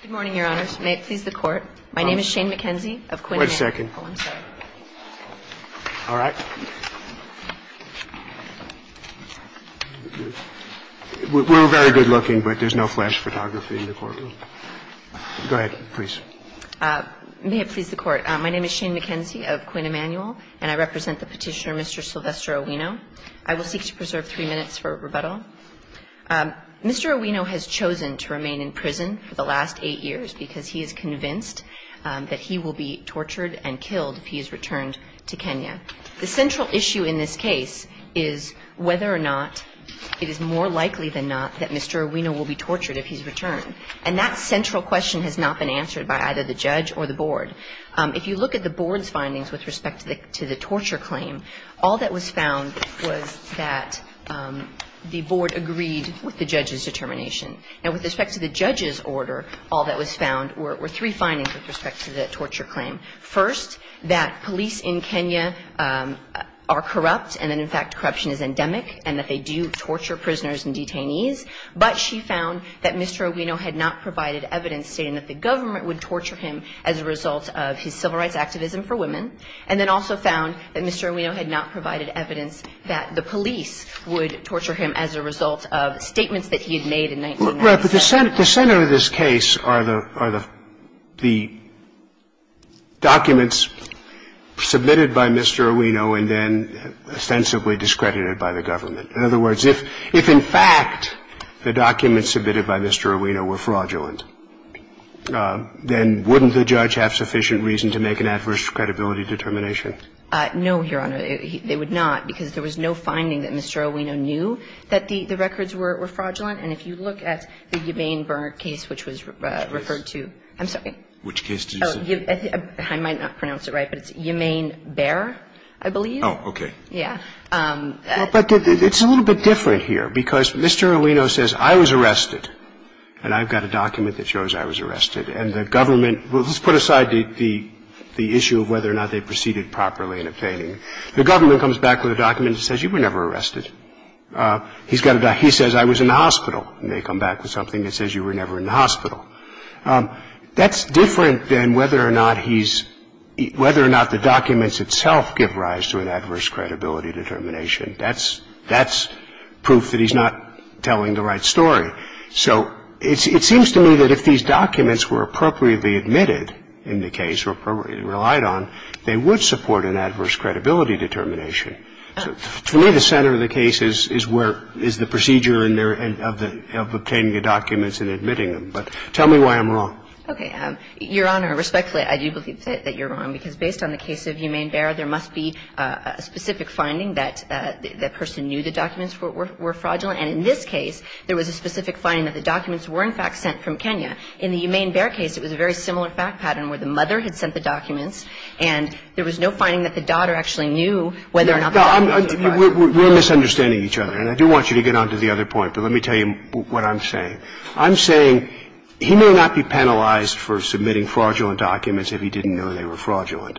Good morning, Your Honors. May it please the Court, my name is Shane McKenzie of Quinn Emanuel. Wait a second. Oh, I'm sorry. All right. We're very good looking, but there's no flash photography in the courtroom. Go ahead, please. May it please the Court, my name is Shane McKenzie of Quinn Emanuel, and I represent the Petitioner, Mr. Sylvester Owino. I will seek to preserve three minutes for rebuttal. Mr. Owino has chosen to remain in prison for the last eight years because he is convinced that he will be tortured and killed if he is returned to Kenya. The central issue in this case is whether or not it is more likely than not that Mr. Owino will be tortured if he's returned. And that central question has not been answered by either the judge or the board. If you look at the board's findings with respect to the torture claim, all that was found was that the board agreed with the judge's determination. And with respect to the judge's order, all that was found were three findings with respect to the torture claim. First, that police in Kenya are corrupt and that, in fact, corruption is endemic and that they do torture prisoners and detainees. But she found that Mr. Owino had not provided evidence stating that the government would torture him as a result of his civil rights activism for women. And then also found that Mr. Owino had not provided evidence that the police would torture him as a result of statements that he had made in 1997. The center of this case are the documents submitted by Mr. Owino and then ostensibly discredited by the government. In other words, if in fact the documents submitted by Mr. Owino were fraudulent, then wouldn't the judge have sufficient reason to make an adverse credibility determination? No, Your Honor. They would not, because there was no finding that Mr. Owino knew that the records were fraudulent. And if you look at the Yemane-Berner case, which was referred to – I'm sorry. Which case did you say? I might not pronounce it right, but it's Yemane-Berner, I believe. Oh, okay. Yeah. But it's a little bit different here, because Mr. Owino says, I was arrested. And I've got a document that shows I was arrested. And the government – well, let's put aside the issue of whether or not they proceeded properly in obtaining it. The government comes back with a document that says, you were never arrested. He says, I was in the hospital. And they come back with something that says, you were never in the hospital. That's different than whether or not he's – whether or not the documents itself give rise to an adverse credibility determination. That's – that's proof that he's not telling the right story. So it seems to me that if these documents were appropriately admitted in the case or appropriately relied on, they would support an adverse credibility determination. To me, the center of the case is where – is the procedure in their – of obtaining the documents and admitting them. But tell me why I'm wrong. Okay. Your Honor, respectfully, I do believe that you're wrong. Because based on the case of Humane Bear, there must be a specific finding that the person knew the documents were fraudulent. And in this case, there was a specific finding that the documents were, in fact, sent from Kenya. In the Humane Bear case, it was a very similar fact pattern where the mother had sent the documents, and there was no finding that the daughter actually knew whether or not the documents were fraudulent. We're misunderstanding each other. And I do want you to get on to the other point. But let me tell you what I'm saying. I'm saying he may not be penalized for submitting fraudulent documents if he didn't know they were fraudulent.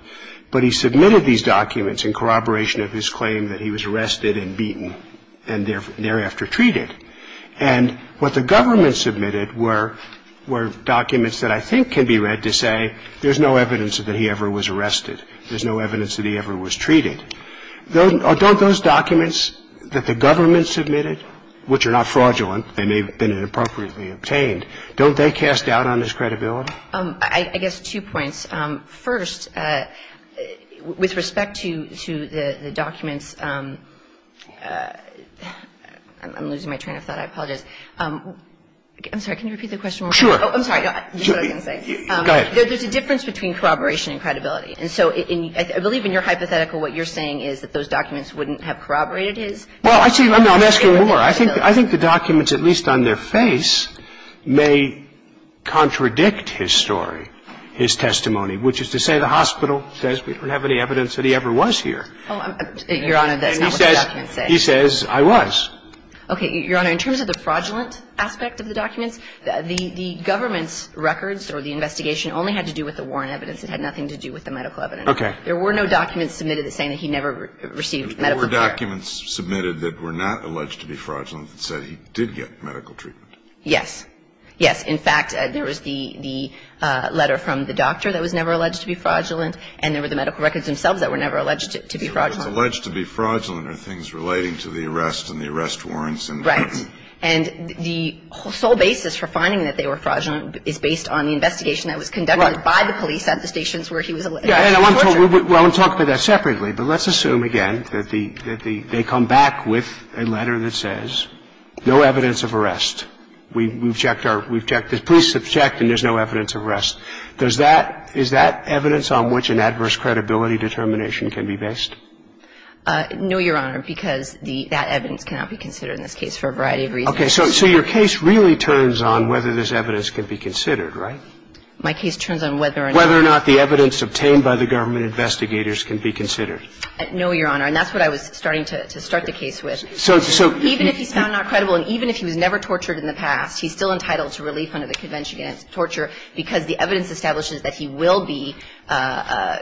But he submitted these documents in corroboration of his claim that he was arrested and beaten and thereafter treated. And what the government submitted were documents that I think can be read to say there's no evidence that he ever was arrested. There's no evidence that he ever was treated. And don't those documents that the government submitted, which are not fraudulent, they may have been inappropriately obtained, don't they cast doubt on his credibility? I guess two points. First, with respect to the documents, I'm losing my train of thought. I apologize. I'm sorry. Can you repeat the question? Sure. Go ahead. There's a difference between corroboration and credibility. And so I believe in your hypothetical what you're saying is that those documents wouldn't have corroborated his? Well, I'm asking more. I think the documents, at least on their face, may contradict his story, his testimony, which is to say the hospital says we don't have any evidence that he ever was here. Your Honor, that's not what the documents say. He says I was. Okay. Your Honor, in terms of the fraudulent aspect of the documents, the government's records or the investigation only had to do with the warrant evidence. It had nothing to do with the medical evidence. Okay. There were no documents submitted saying that he never received medical care. There were documents submitted that were not alleged to be fraudulent that said he did get medical treatment. Yes. Yes. In fact, there was the letter from the doctor that was never alleged to be fraudulent and there were the medical records themselves that were never alleged to be fraudulent. The records alleged to be fraudulent are things relating to the arrest and the arrest warrants. Right. And the sole basis for finding that they were fraudulent is based on the investigation that was conducted by the police at the stations where he was alleged to be tortured. Well, I want to talk about that separately, but let's assume again that they come back with a letter that says no evidence of arrest. We've checked our – we've checked – the police have checked and there's no evidence of arrest. Does that – is that evidence on which an adverse credibility determination can be based? No, Your Honor, because that evidence cannot be considered in this case for a variety of reasons. So your case really turns on whether this evidence can be considered, right? My case turns on whether or not – Whether or not the evidence obtained by the government investigators can be considered. No, Your Honor. And that's what I was starting to start the case with. So – so – Even if he's found not credible and even if he was never tortured in the past, he's still entitled to relief under the Convention against Torture because the evidence establishes that he will be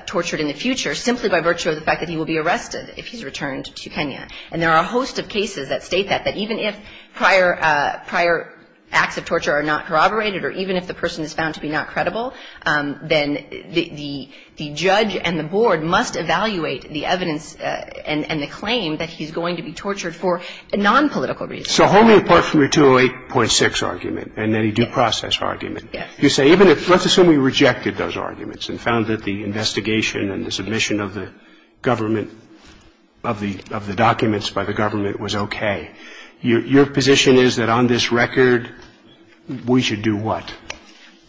tortured in the future simply by virtue of the fact that he will be arrested if he's returned to Kenya. And there are a host of cases that state that, that even if prior – prior acts of torture are not corroborated or even if the person is found to be not credible, then the – the judge and the board must evaluate the evidence and – and the claim that he's going to be tortured for nonpolitical reasons. So wholly apart from your 208.6 argument and any due process argument, you say even if – let's assume we rejected those arguments and found that the investigation and the submission of the government – of the – of the documents by the government was okay, your – your position is that on this record, we should do what?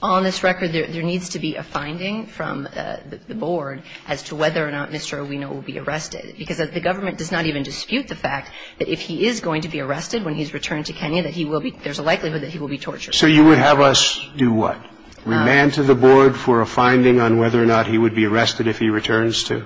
On this record, there – there needs to be a finding from the board as to whether or not Mr. Owino will be arrested, because the government does not even dispute the fact that if he is going to be arrested when he's returned to Kenya, that he will be – there's a likelihood that he will be tortured. So you would have us do what? Remand to the board for a finding on whether or not he would be arrested if he returns to?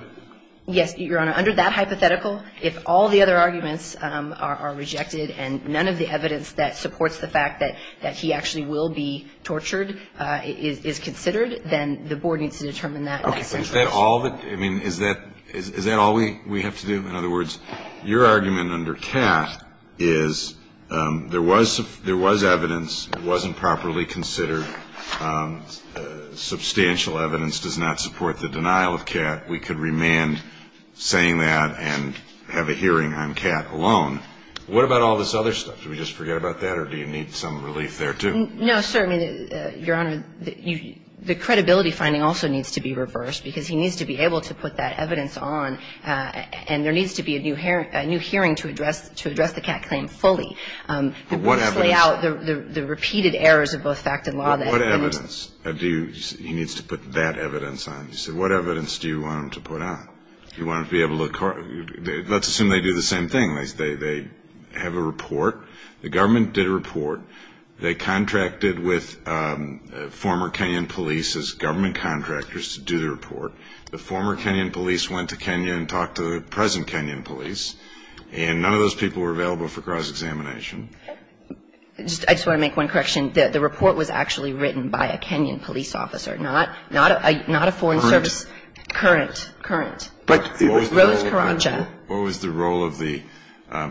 Yes, Your Honor. Under that hypothetical, if all the other arguments are – are rejected and none of the evidence that supports the fact that – that he actually will be tortured is – is considered, then the board needs to determine that. Okay. But is that all that – I mean, is that – is that all we – we have to do? In other words, your argument under Kat is there was – there was evidence. It wasn't properly considered. Substantial evidence does not support the denial of Kat. We could remand saying that and have a hearing on Kat alone. What about all this other stuff? Do we just forget about that, or do you need some relief there, too? No, sir. I mean, Your Honor, the credibility finding also needs to be reversed, because he needs to be able to put that evidence on, and there needs to be a new hearing to address – to address the Kat claim fully. What evidence? To lay out the repeated errors of both fact and law that – What evidence do you – he needs to put that evidence on? He said, what evidence do you want him to put on? Do you want him to be able to – let's assume they do the same thing. They have a report. The government did a report. They contracted with former Kenyan police as government contractors to do the report. The former Kenyan police went to Kenya and talked to the present Kenyan police, and none of those people were available for cross-examination. I just want to make one correction. The report was actually written by a Kenyan police officer, not – not a foreign service. Current. Current. Rose Karanja. What was the role of the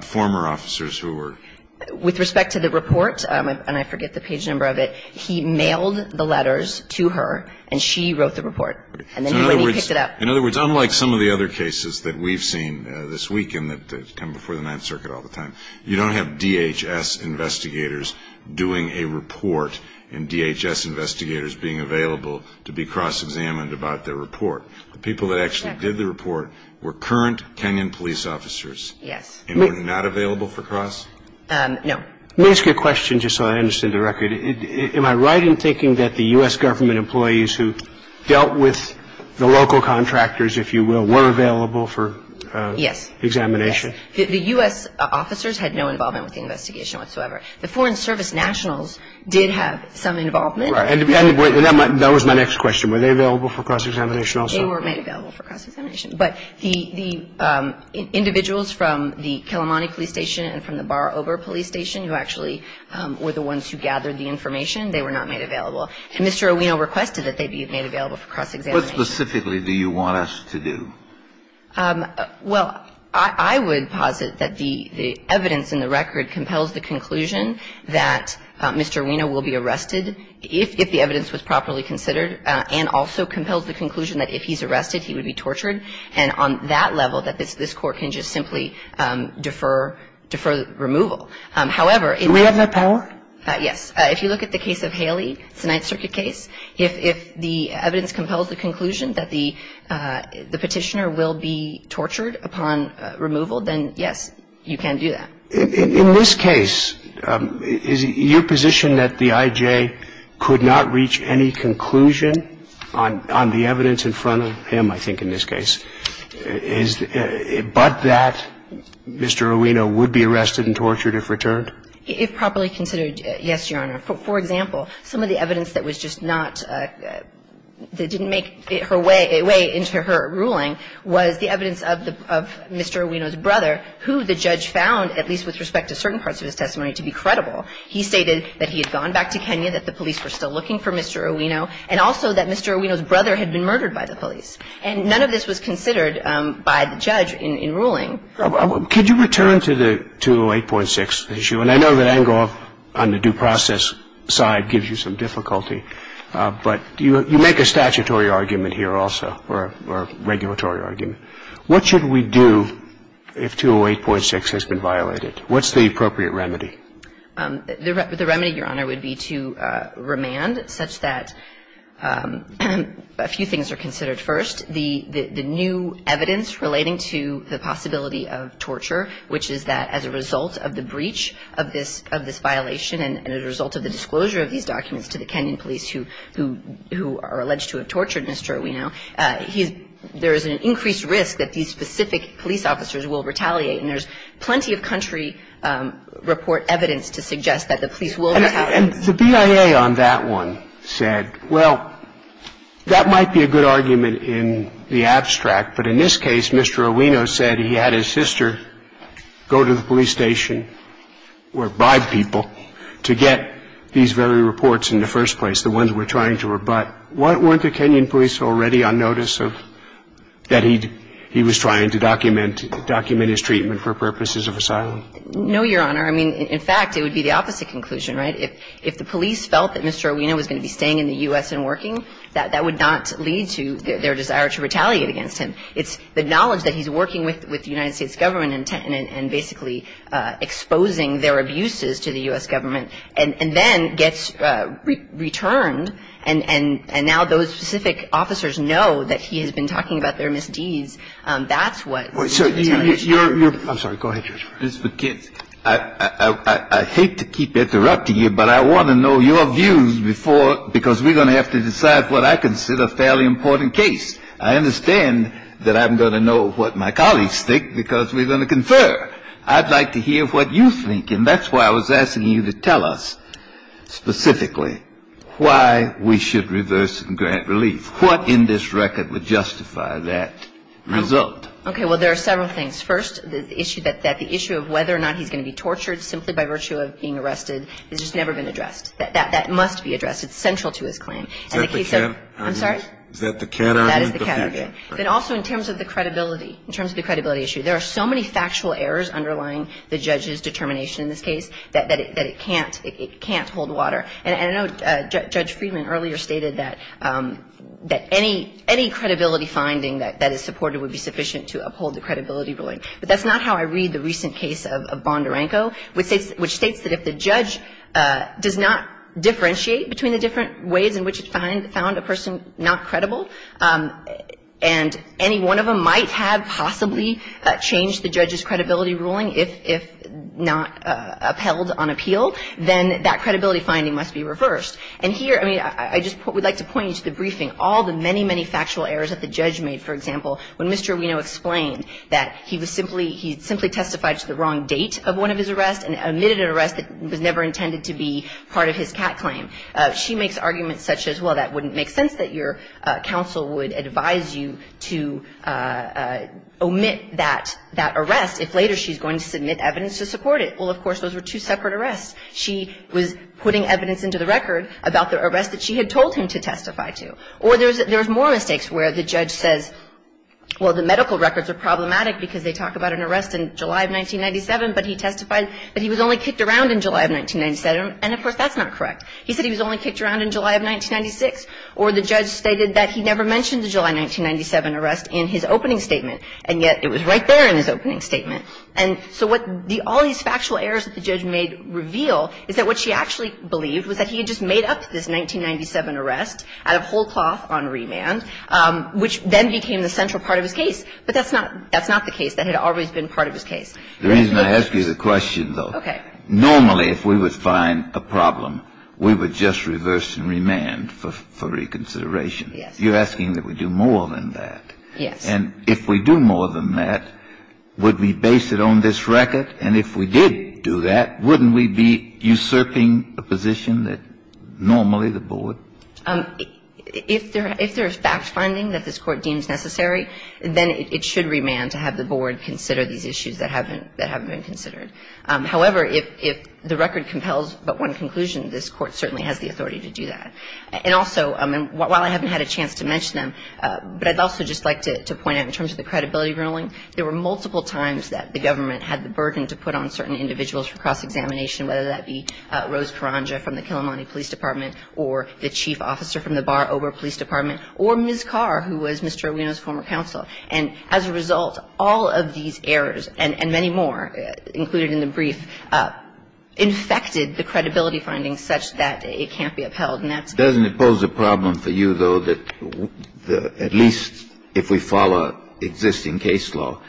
former officers who were – With respect to the report, and I forget the page number of it, he mailed the letters to her, and she wrote the report. And then the lady picked it up. In other words, unlike some of the other cases that we've seen this week and that come before the Ninth Circuit all the time, you don't have DHS investigators doing a report and DHS investigators being available to be cross-examined about their report. The people that actually did the report were current Kenyan police officers. Yes. And were not available for cross? No. Let me ask you a question just so I understand the record. Am I right in thinking that the U.S. government employees who dealt with the local contractors, if you will, were available for examination? Yes. The U.S. officers had no involvement with the investigation whatsoever. The Foreign Service nationals did have some involvement. Right. And that was my next question. Were they available for cross-examination also? They were made available for cross-examination. But the individuals from the Kelomani police station and from the Bar-Ober police station who actually were the ones who gathered the information, they were not made available. And Mr. O'Weno requested that they be made available for cross-examination. What specifically do you want us to do? Well, I would posit that the evidence in the record compels the conclusion that Mr. O'Weno will be arrested if the evidence was properly considered and also compels the conclusion that if he's arrested, he would be tortured. And on that level, that this Court can just simply defer removal. However, if you look at the case of Haley, it's a Ninth Circuit case. If the evidence compels the conclusion that the petitioner will be tortured upon removal, then, yes, you can do that. In this case, is your position that the IJ could not reach any conclusion on the evidence in front of him, I think, in this case, but that Mr. O'Weno would be arrested and tortured if returned? If properly considered, yes, Your Honor. I would say that the evidence in the record compels the conclusion that Mr. O'Weno will be arrested if the evidence was properly considered. For example, some of the evidence that was just not, that didn't make her way into her ruling was the evidence of Mr. O'Weno's brother, who the judge found, at least with respect to certain parts of his testimony, to be credible. He stated that he had gone back to Kenya, that the police were still looking for Mr. O'Weno, and also that Mr. O'Weno's brother had been murdered by the police. And none of this was considered by the judge in ruling. Could you return to the 208.6 issue? And I know that Engle on the due process side gives you some difficulty, but you make a statutory argument here also, or a regulatory argument. What should we do if 208.6 has been violated? What's the appropriate remedy? The remedy, Your Honor, would be to remand such that a few things are considered first, the new evidence relating to the possibility of torture, which is that as a result of the breach of this violation and as a result of the disclosure of these documents to the Kenyan police who are alleged to have tortured Mr. O'Weno, there is an increased risk that these specific police officers will retaliate. And there's plenty of country report evidence to suggest that the police will retaliate. And the BIA on that one said, well, that might be a good argument in the abstract, but in this case, Mr. O'Weno said he had his sister go to the police station or bribe people to get these very reports in the first place, the ones we're trying to rebut. Weren't the Kenyan police already on notice of that he was trying to document his treatment for purposes of asylum? No, Your Honor. I mean, in fact, it would be the opposite conclusion, right? If the police felt that Mr. O'Weno was going to be staying in the U.S. and working, that would not lead to their desire to retaliate against him. It's the knowledge that he's working with the United States government and basically exposing their abuses to the U.S. government and then gets returned, and now those specific officers know that he has been talking about their misdeeds. That's what the retaliation is. I'm sorry. Go ahead, Your Honor. This is for kids. I hate to keep interrupting you, but I want to know your views before – because we're going to have to decide what I consider a fairly important case. I understand that I'm going to know what my colleagues think because we're going to confer. I'd like to hear what you think, and that's why I was asking you to tell us specifically why we should reverse and grant relief. What in this record would justify that result? Okay. Well, there are several things. First, the issue that the issue of whether or not he's going to be tortured simply by virtue of being arrested has just never been addressed. That must be addressed. It's central to his claim. Is that the cat? I'm sorry? Is that the cat? That is the cat. Okay. Then also in terms of the credibility, in terms of the credibility issue, there are so many factual errors underlying the judge's determination in this case that it can't hold water. And I know Judge Friedman earlier stated that any credibility finding that is supported would be sufficient to uphold the credibility ruling. But that's not how I read the recent case of Bondarenko, which states that if the judge does not differentiate between the different ways in which it found a person not credible, and any one of them might have possibly changed the judge's credibility ruling if not upheld on appeal, then that credibility finding must be reversed. And here, I mean, I just would like to point you to the briefing. All the many, many factual errors that the judge made, for example, when Mr. Aruino explained that he was simply he simply testified to the wrong date of one of his arrests and omitted an arrest that was never intended to be part of his cat claim. She makes arguments such as, well, that wouldn't make sense that your counsel would advise you to omit that arrest if later she's going to submit evidence to support it. Well, of course, those were two separate arrests. She was putting evidence into the record about the arrest that she had told him to omit. Or there's more mistakes where the judge says, well, the medical records are problematic because they talk about an arrest in July of 1997, but he testified that he was only kicked around in July of 1997, and, of course, that's not correct. He said he was only kicked around in July of 1996, or the judge stated that he never mentioned the July 1997 arrest in his opening statement, and yet it was right there in his opening statement. And so what all these factual errors that the judge made reveal is that what she actually believed was that he had just made up this 1997 arrest out of whole cloth on remand, which then became the central part of his case. But that's not the case. That had always been part of his case. The reason I ask you the question, though. Okay. Normally, if we would find a problem, we would just reverse and remand for reconsideration. Yes. You're asking that we do more than that. Yes. And if we do more than that, would we base it on this record? And if we did do that, wouldn't we be usurping a position that normally the board If there is fact-finding that this Court deems necessary, then it should remand to have the board consider these issues that haven't been considered. However, if the record compels but one conclusion, this Court certainly has the authority to do that. And also, while I haven't had a chance to mention them, but I'd also just like to point out in terms of the credibility ruling, there were multiple times that the government had the burden to put on certain individuals for cross-examination, whether that be Rose Karanja from the Kilimani Police Department or the chief officer from the Bar Obra Police Department or Ms. Carr, who was Mr. Erwino's former counsel. And as a result, all of these errors, and many more included in the brief, infected the credibility findings such that it can't be upheld, and that's Doesn't it pose a problem for you, though, that at least if we follow existing case law,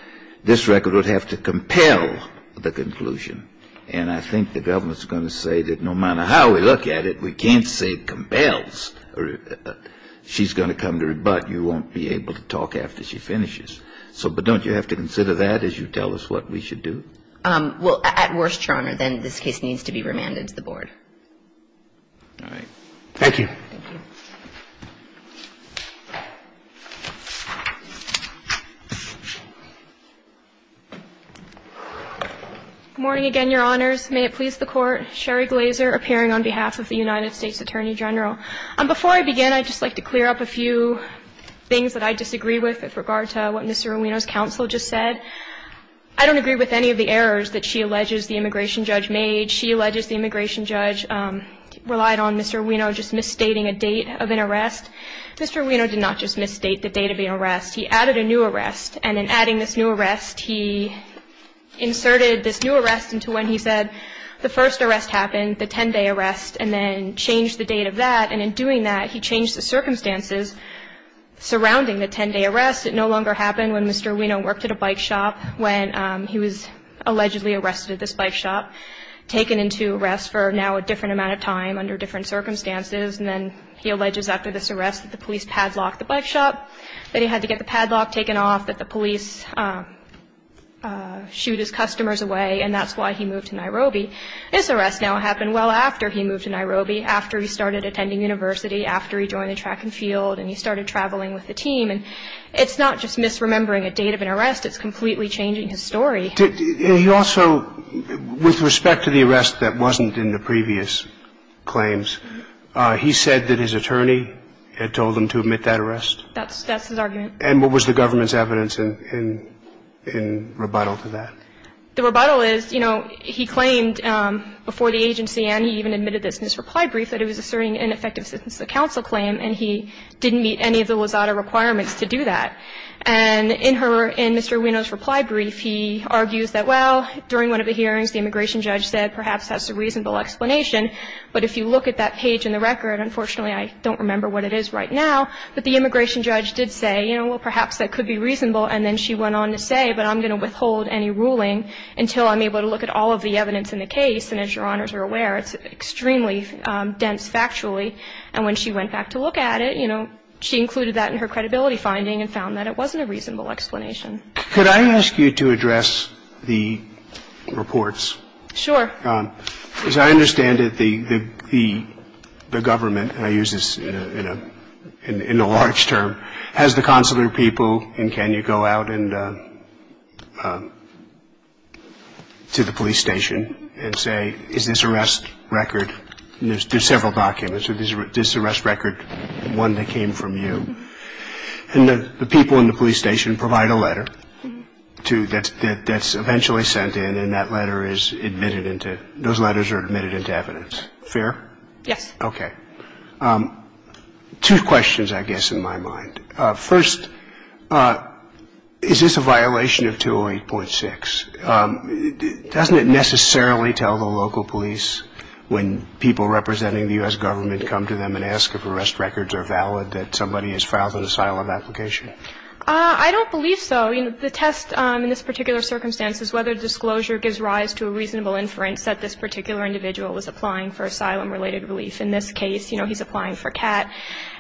this record would have to compel the conclusion? And I think the government's going to say that no matter how we look at it, we can't say compels. She's going to come to her butt. You won't be able to talk after she finishes. So but don't you have to consider that as you tell us what we should do? Well, at worst, Your Honor, then this case needs to be remanded to the board. All right. Thank you. Thank you. Good morning again, Your Honors. May it please the Court. Sherry Glazer appearing on behalf of the United States Attorney General. Before I begin, I'd just like to clear up a few things that I disagree with with regard to what Mr. Erwino's counsel just said. I don't agree with any of the errors that she alleges the immigration judge made. She alleges the immigration judge relied on Mr. Erwino just misstating a date of an arrest. Mr. Erwino did not just misstate the date of the arrest. He added a new arrest. And in adding this new arrest, he inserted this new arrest into when he said the first arrest happened, the 10-day arrest, and then changed the date of that. And in doing that, he changed the circumstances surrounding the 10-day arrest. It no longer happened when Mr. Erwino worked at a bike shop when he was allegedly arrested at this bike shop, taken into arrest for now a different amount of time under different circumstances. And then he alleges after this arrest that the police padlocked the bike shop, that he had to get the padlock taken off, that the police shoot his customers away, and that's why he moved to Nairobi. This arrest now happened well after he moved to Nairobi, after he started attending university, after he joined the track and field, and he started traveling with the team. And it's not just misremembering a date of an arrest. It's completely changing his story. He also, with respect to the arrest that wasn't in the previous claims, he said that his attorney had told him to admit that arrest? That's his argument. And what was the government's evidence in rebuttal to that? The rebuttal is, you know, he claimed before the agency, and he even admitted this in his reply brief, that he was asserting ineffective assistance to the counsel claim, and he didn't meet any of the Wazata requirements to do that. And in her, in Mr. Ueno's reply brief, he argues that, well, during one of the hearings, the immigration judge said, perhaps that's a reasonable explanation, but if you look at that page in the record, unfortunately, I don't remember what it is right now, but the immigration judge did say, you know, well, perhaps that could be reasonable, and then she went on to say, but I'm going to withhold any ruling until I'm able to look at all of the evidence in the case, and as Your Honors are aware, it's extremely dense factually. And when she went back to look at it, you know, she included that in her credibility finding and found that it wasn't a reasonable explanation. Could I ask you to address the reports? Sure. As I understand it, the government, and I use this in a large term, has the consular people, and can you go out to the police station and say, is this arrest record? There's several documents. Is this arrest record one that came from you? And the people in the police station provide a letter that's eventually sent in, and that letter is admitted into, those letters are admitted into evidence. Fair? Yes. Okay. Two questions, I guess, in my mind. First, is this a violation of 208.6? Doesn't it necessarily tell the local police when people representing the U.S. government come to them and ask if arrest records are valid that somebody has filed an asylum application? I don't believe so. The test in this particular circumstance is whether disclosure gives rise to a reasonable inference that this particular individual was applying for asylum-related relief. In this case, you know, he's applying for CAT.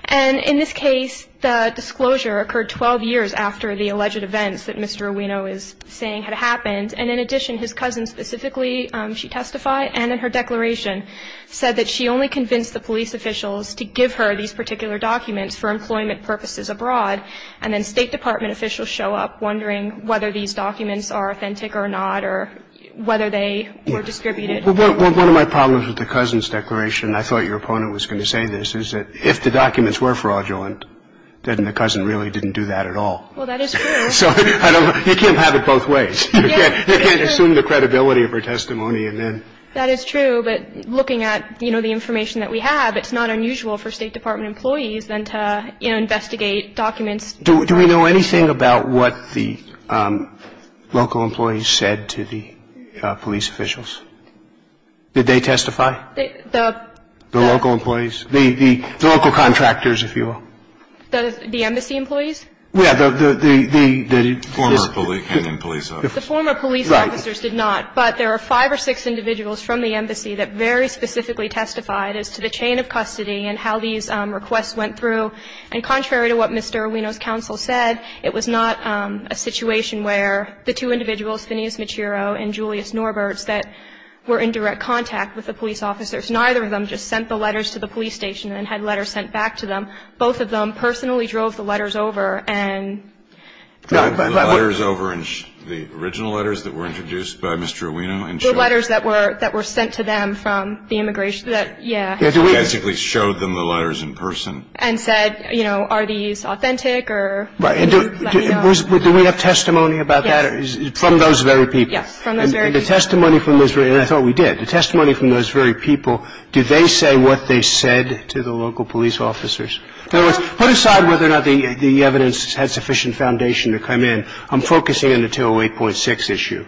And in this case, the disclosure occurred 12 years after the alleged events that Mr. Ruino is saying had happened. And in addition, his cousin specifically, she testified, and in her declaration said that she only convinced the police officials to give her these particular documents for employment purposes abroad. And then State Department officials show up wondering whether these documents are authentic or not or whether they were distributed. Well, one of my problems with the cousin's declaration, I thought your opponent was going to say this, is that if the documents were fraudulent, then the cousin really didn't do that at all. Well, that is true. So you can't have it both ways. You can't assume the credibility of her testimony and then. That is true. But looking at, you know, the information that we have, it's not unusual for State Department employees then to, you know, investigate documents. Do we know anything about what the local employees said to the police officials? Did they testify? The local employees? The local contractors, if you will. The embassy employees? Yeah. The former police officers. The former police officers did not. But there are five or six individuals from the embassy that very specifically testified as to the chain of custody and how these requests went through. And contrary to what Mr. Aruino's counsel said, it was not a situation where the two individuals, Phineas Machiro and Julius Norberts, that were in direct contact with the police officers, neither of them just sent the letters to the police station and had letters sent back to them. Both of them personally drove the letters over and drove the letters over. The original letters that were introduced by Mr. Aruino? The letters that were sent to them from the immigration, yeah. Basically showed them the letters in person. And said, you know, are these authentic? Right. Do we have testimony about that? Yes. From those very people? Yes, from those very people. And the testimony from those very people, and I thought we did, the testimony from those very people, did they say what they said to the local police officers? In other words, put aside whether or not the evidence had sufficient foundation to come in, I'm focusing on the 208.6 issue.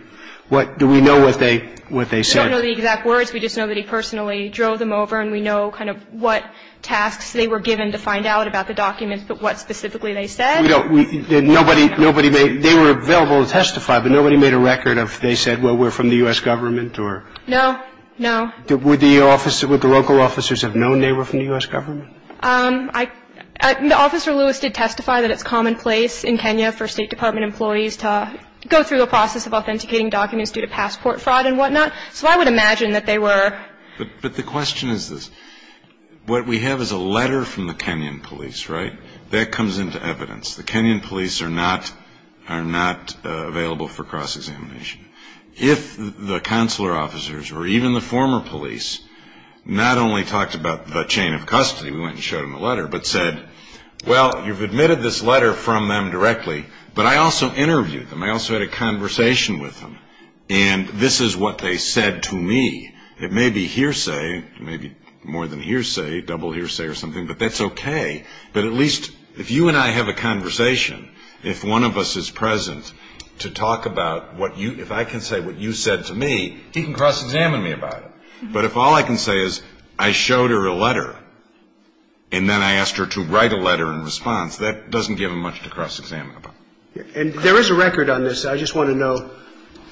Do we know what they said? We don't know the exact words. We just know that he personally drove them over, and we know kind of what tasks they were given to find out about the documents, but what specifically they said. Nobody made they were available to testify, but nobody made a record of they said, well, we're from the U.S. government or? No, no. Would the local officers have known they were from the U.S. government? Officer Lewis did testify that it's commonplace in Kenya for State Department employees to go through the process of authenticating documents due to passport fraud and whatnot, so I would imagine that they were. But the question is this. What we have is a letter from the Kenyan police, right? That comes into evidence. The Kenyan police are not available for cross-examination. If the consular officers or even the former police not only talked about the chain of custody, we went and showed them the letter, but said, well, you've admitted this letter from them directly, but I also interviewed them. I also had a conversation with them, and this is what they said to me. It may be hearsay. It may be more than hearsay, double hearsay or something, but that's okay. But at least if you and I have a conversation, if one of us is present to talk about what you – if I can say what you said to me, he can cross-examine me about it. But if all I can say is I showed her a letter and then I asked her to write a letter in response, that doesn't give him much to cross-examine about. And there is a record on this. I just want to know –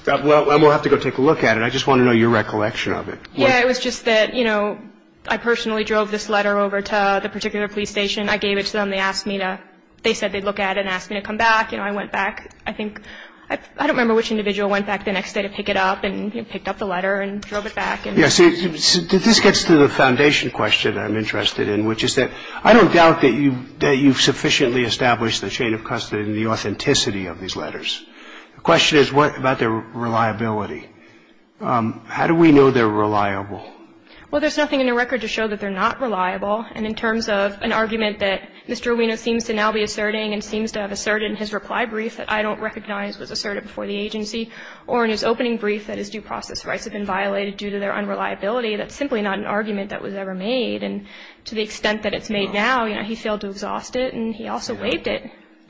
well, we'll have to go take a look at it. I just want to know your recollection of it. Yeah, it was just that, you know, I personally drove this letter over to the particular police station. I gave it to them. They asked me to – they said they'd look at it and ask me to come back. You know, I went back. I think – I don't remember which individual went back the next day to pick it up and picked up the letter and drove it back. Yes. This gets to the foundation question I'm interested in, which is that I don't doubt that you've sufficiently established the chain of custody and the authenticity of these letters. The question is what about their reliability. How do we know they're reliable? Well, there's nothing in the record to show that they're not reliable. And in terms of an argument that Mr. Ueno seems to now be asserting and seems to have asserted in his reply brief that I don't recognize was asserted before the agency, or in his opening brief that his due process rights have been violated due to their unreliability, that's simply not an argument that was ever made. And to the extent that it's made now, you know, he failed to exhaust it, and he also waived it.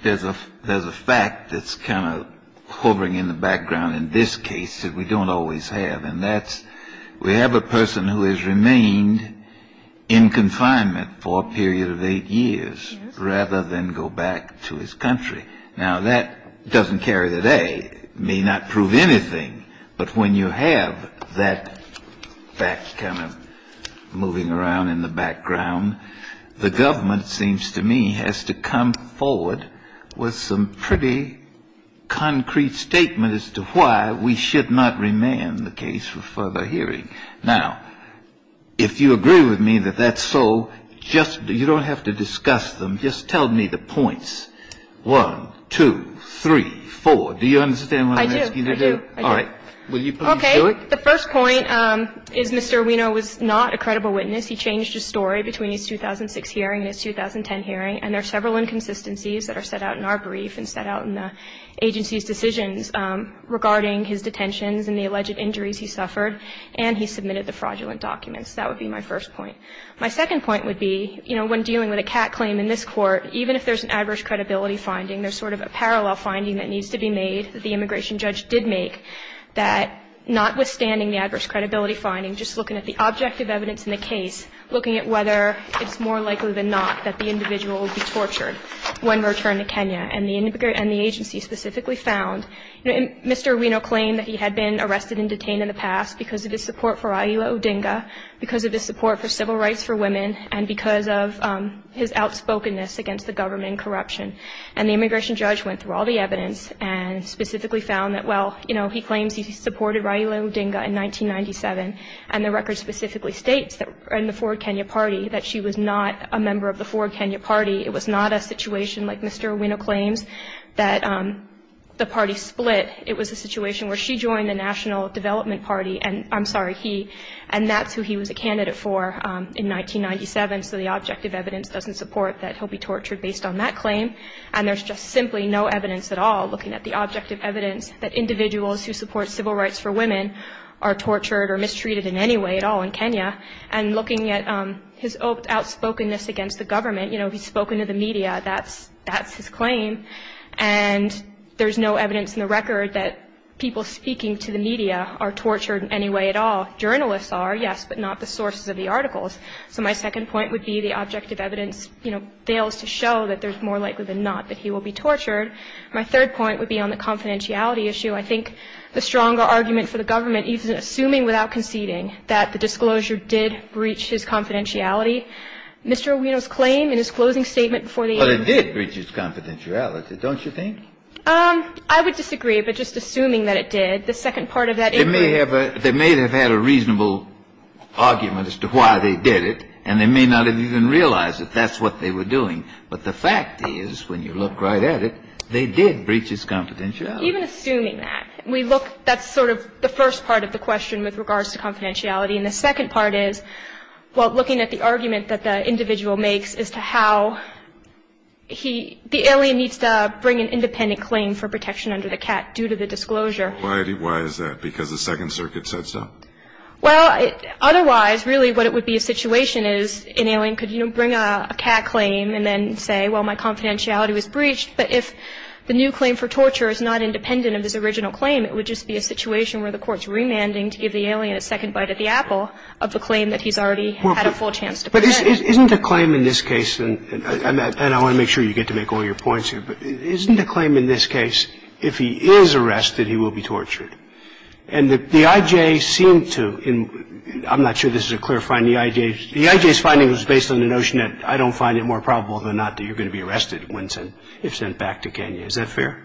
There's a fact that's kind of hovering in the background in this case that we don't always have, and that's we have a person who has remained in confinement for a period of eight years, rather than go back to his country. Now, that doesn't carry the day. It may not prove anything. But when you have that fact kind of moving around in the background, the government, it seems to me, has to come forward with some pretty concrete statement as to why we should not remand the case for further hearing. Now, if you agree with me that that's so, you don't have to discuss them. Just tell me the points. One, two, three, four. Do you understand what I'm asking you to do? I do. I do. All right. Will you please do it? Okay. The first point is Mr. Ueno was not a credible witness. He changed his story between his 2006 hearing and his 2010 hearing, and there are several inconsistencies that are set out in our brief and set out in the agency's decisions regarding his detentions and the alleged injuries he suffered, and he submitted the fraudulent documents. That would be my first point. My second point would be, you know, when dealing with a cat claim in this Court, even if there's an adverse credibility finding, there's sort of a parallel finding that needs to be made that the immigration judge did make, that notwithstanding the adverse credibility finding, just looking at the objective evidence in the case, looking at whether it's more likely than not that the individual will be tortured when returned to Kenya. And the agency specifically found, you know, Mr. Ueno claimed that he had been arrested and detained in the past because of his support for Raila Odinga, because of his support for civil rights for women, and because of his outspokenness against the government and corruption. And the immigration judge went through all the evidence and specifically found that, well, you know, he claims he supported Raila Odinga in 1997, and the record specifically states that in the forward Kenya party that she was not a member of the forward Kenya party. It was not a situation like Mr. Ueno claims, that the party split. It was a situation where she joined the national development party, and I'm sorry, he, and that's who he was a candidate for in 1997. So the objective evidence doesn't support that he'll be tortured based on that claim. And there's just simply no evidence at all, looking at the objective evidence, that individuals who support civil rights for women are tortured or mistreated in any way at all in Kenya. And looking at his outspokenness against the government, you know, he's spoken to the media. That's his claim. And there's no evidence in the record that people speaking to the media are tortured in any way at all. Journalists are, yes, but not the sources of the articles. So my second point would be the objective evidence, you know, fails to show that there's more likely than not that he will be tortured. My third point would be on the confidentiality issue. I think the stronger argument for the government, even assuming without conceding that the disclosure did breach his confidentiality, Mr. Ueno's claim in his closing statement before the agency. Kennedy did breach his confidentiality, don't you think? I would disagree. But just assuming that it did, the second part of that is. They may have had a reasonable argument as to why they did it, and they may not have even realized that that's what they were doing. But the fact is, when you look right at it, they did breach his confidentiality. Even assuming that. We look. That's sort of the first part of the question with regards to confidentiality. And the second part is, well, looking at the argument that the individual makes as to how he, the alien needs to bring an independent claim for protection under the CAT due to the disclosure. Why is that? Because the Second Circuit said so? Well, otherwise, really what it would be a situation is an alien could, you know, bring a CAT claim and then say, well, my confidentiality was breached. But if the new claim for torture is not independent of his original claim, it would just be a situation where the Court's remanding to give the alien a second bite at the apple of the claim that he's already had a full chance to present. But isn't a claim in this case, and I want to make sure you get to make all your points here, but isn't a claim in this case, if he is arrested, he will be tortured? And the I.J. seemed to, and I'm not sure this is a clear finding, the I.J.'s finding was based on the notion that I don't find it more probable than not that you're going to be arrested if sent back to Kenya. Is that fair?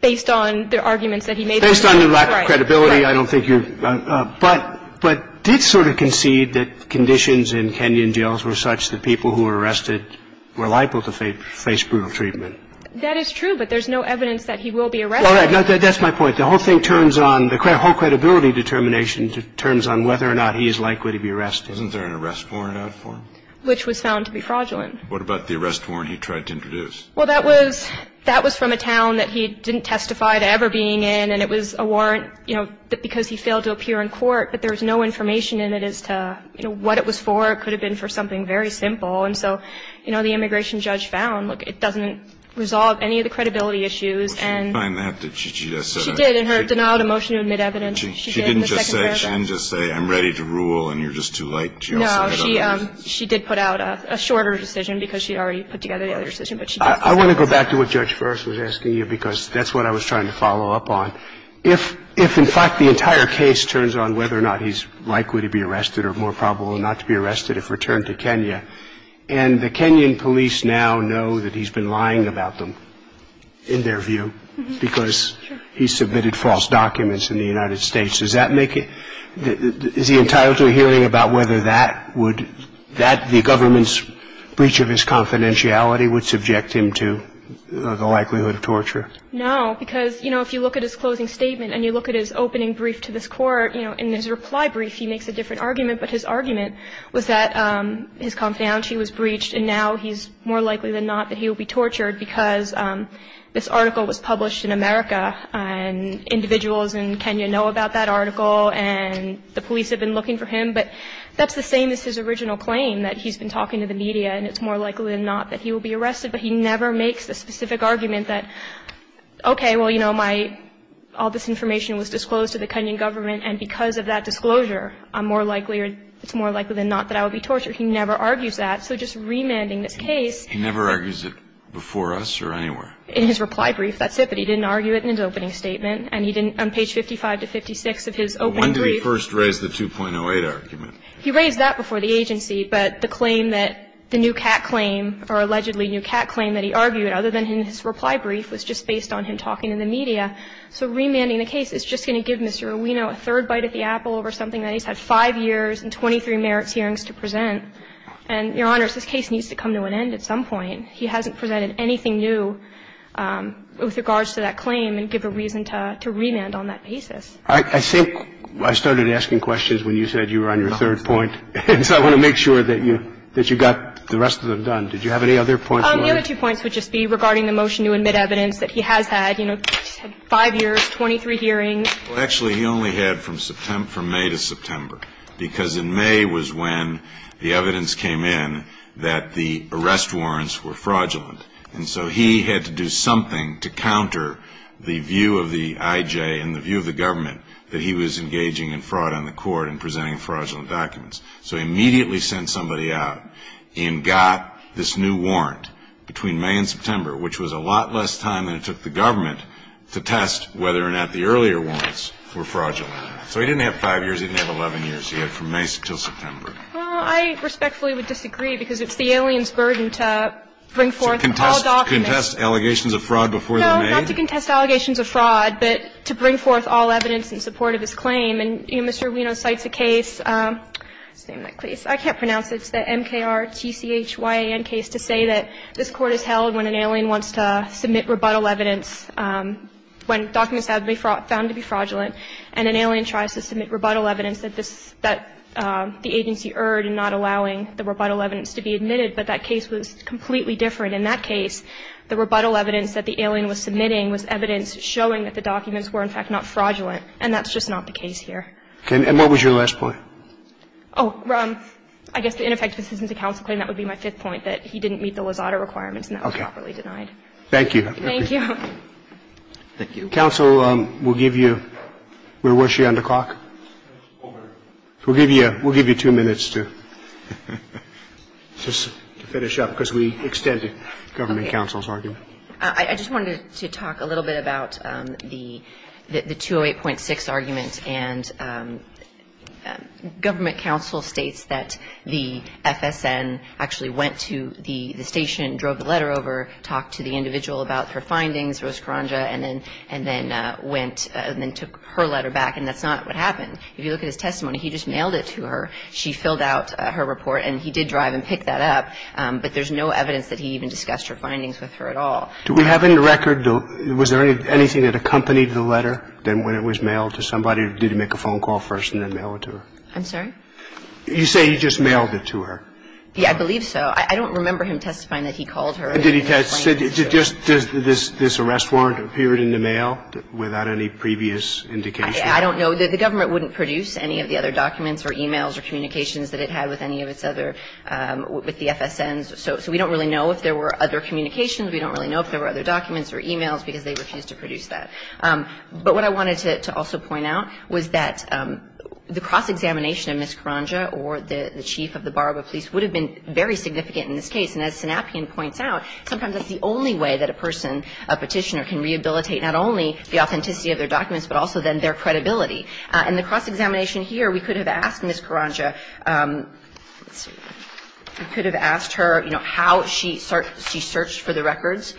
Based on the arguments that he made? Based on your lack of credibility, I don't think you're. But did sort of concede that conditions in Kenyan jails were such that people who were arrested were liable to face brutal treatment? That is true, but there's no evidence that he will be arrested. All right. That's my point. The whole thing turns on, the whole credibility determination turns on whether or not he is likely to be arrested. Wasn't there an arrest warrant out for him? Which was found to be fraudulent. What about the arrest warrant he tried to introduce? Well, that was from a town that he didn't testify to ever being in. And it was a warrant, you know, because he failed to appear in court. But there was no information in it as to, you know, what it was for. It could have been for something very simple. And so, you know, the immigration judge found, look, it doesn't resolve any of the credibility issues. And she did in her denial of motion to admit evidence. She didn't just say, I'm ready to rule and you're just too late. No, she did put out a shorter decision because she had already put together the other one. I want to go back to what Judge Furst was asking you because that's what I was trying to follow up on. If, in fact, the entire case turns on whether or not he's likely to be arrested or more probable not to be arrested if returned to Kenya, and the Kenyan police now know that he's been lying about them, in their view, because he submitted false documents in the United States, does that make it, is he entitled to a hearing about whether that would, that the government's breach of his confidentiality would subject him to the likelihood of torture? No, because, you know, if you look at his closing statement and you look at his opening brief to this Court, you know, in his reply brief he makes a different argument, but his argument was that his confidentiality was breached and now he's more likely than not that he will be tortured because this article was published in America and individuals in Kenya know about that article and the police have been looking for him. But that's the same as his original claim, that he's been talking to the media and it's more likely than not that he will be arrested, but he never makes the specific argument that, okay, well, you know, my, all this information was disclosed to the Kenyan government and because of that disclosure I'm more likely or it's more likely than not that I will be tortured. He never argues that. So just remanding this case. He never argues it before us or anywhere? In his reply brief, that's it, but he didn't argue it in his opening statement and he didn't on page 55 to 56 of his opening brief. When did he first raise the 2.08 argument? He raised that before the agency, but the claim that the new cat claim or allegedly new cat claim that he argued, other than in his reply brief, was just based on him talking to the media. So remanding the case is just going to give Mr. Ueno a third bite at the apple over something that he's had five years and 23 merits hearings to present. And, Your Honors, this case needs to come to an end at some point. He hasn't presented anything new with regards to that claim and give a reason to remand on that basis. I think I started asking questions when you said you were on your third point, and so I want to make sure that you got the rest of them done. Did you have any other points? The other two points would just be regarding the motion to admit evidence that he has had, you know, five years, 23 hearings. Well, actually, he only had from May to September, because in May was when the evidence came in that the arrest warrants were fraudulent. And so he had to do something to counter the view of the I.J. and the view of the government that he was engaging in fraud on the court and presenting fraudulent documents. So he immediately sent somebody out and got this new warrant between May and September, which was a lot less time than it took the government to test whether or not the earlier warrants were fraudulent. So he didn't have five years. He didn't have 11 years. He had from May until September. Well, I respectfully would disagree, because it's the alien's burden to bring forth all evidence in support of his claim. And Mr. Ueno cites a case, let's name that case. I can't pronounce it. It's the MKR-TCH-YAN case to say that this Court has held when an alien wants to submit rebuttal evidence when documents have been found to be fraudulent, and an alien tries to submit rebuttal evidence that the agency erred in not allowing the rebuttal evidence to be admitted, but that case was completely different. And in that case, the rebuttal evidence that the alien was submitting was evidence showing that the documents were, in fact, not fraudulent, and that's just not the case here. And what was your last point? Oh, I guess the ineffective assistance to counsel claim, that would be my fifth point, that he didn't meet the Lozada requirements and that was properly denied. Okay. Thank you. Thank you. Thank you. Counsel will give you, where was she on the clock? We'll give you two minutes to finish up, because we extended. Okay. Government counsel's argument. I just wanted to talk a little bit about the 208.6 argument, and government counsel states that the FSN actually went to the station, drove the letter over, talked to the individual about her findings, Rose Karanja, and then went and then took her letter back, and that's not what happened. If you look at his testimony, he just mailed it to her. She filled out her report, and he did drive and pick that up, but there's no evidence that the FSN actually went to the station and discussed her findings with her at all. Do we have any record? Was there anything that accompanied the letter than when it was mailed to somebody? Did he make a phone call first and then mail it to her? I'm sorry? You say he just mailed it to her. Yeah, I believe so. I don't remember him testifying that he called her and then explained it to her. Did he just, does this arrest warrant appear in the mail without any previous indication? I don't know. So the government wouldn't produce any of the other documents or e-mails or communications that it had with any of its other, with the FSNs, so we don't really know if there were other communications. We don't really know if there were other documents or e-mails because they refused to produce that. But what I wanted to also point out was that the cross-examination of Ms. Karanja or the chief of the Baraba police would have been very significant in this case, and as Sanapian points out, sometimes that's the only way that a person, a Petitioner, can rehabilitate not only the authenticity of their documents, but also then their credibility. In the cross-examination here, we could have asked Ms. Karanja, we could have asked her, you know, how she searched for the records,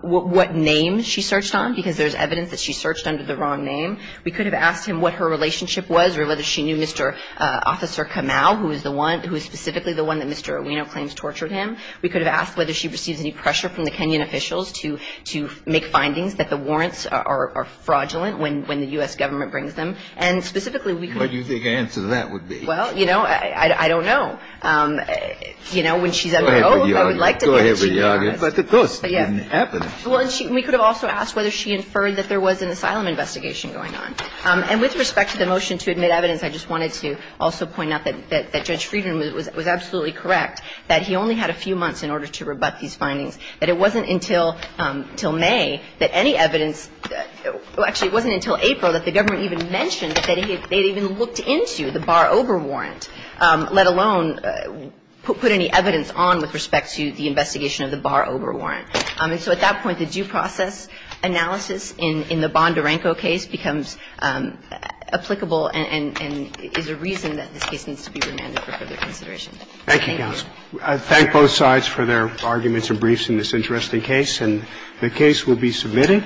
what name she searched on, because there's evidence that she searched under the wrong name. We could have asked him what her relationship was or whether she knew Mr. Officer Kamau, who is the one, who is specifically the one that Mr. Owino claims tortured him. We could have asked whether she receives any pressure from the Kenyan officials to make findings that the warrants are fraudulent when the U.S. Government brings them. And specifically, we could have asked her. Kennedy, what do you think the answer to that would be? Well, you know, I don't know. You know, when she's on her own, I would like to think that she does. Go ahead with the argument. But of course, it didn't happen. Well, and we could have also asked whether she inferred that there was an asylum investigation going on. And with respect to the motion to admit evidence, I just wanted to also point out that Judge Friedman was absolutely correct that he only had a few months in order to rebut these findings, that it wasn't until May that any evidence – well, actually, it wasn't until April that the government even mentioned that they had even looked into the bar-over warrant, let alone put any evidence on with respect to the investigation of the bar-over warrant. And so at that point, the due process analysis in the Bondarenko case becomes applicable and is a reason that this case needs to be remanded for further consideration. Thank you, counsel. I thank both sides for their arguments and briefs in this interesting case. And the case will be submitted.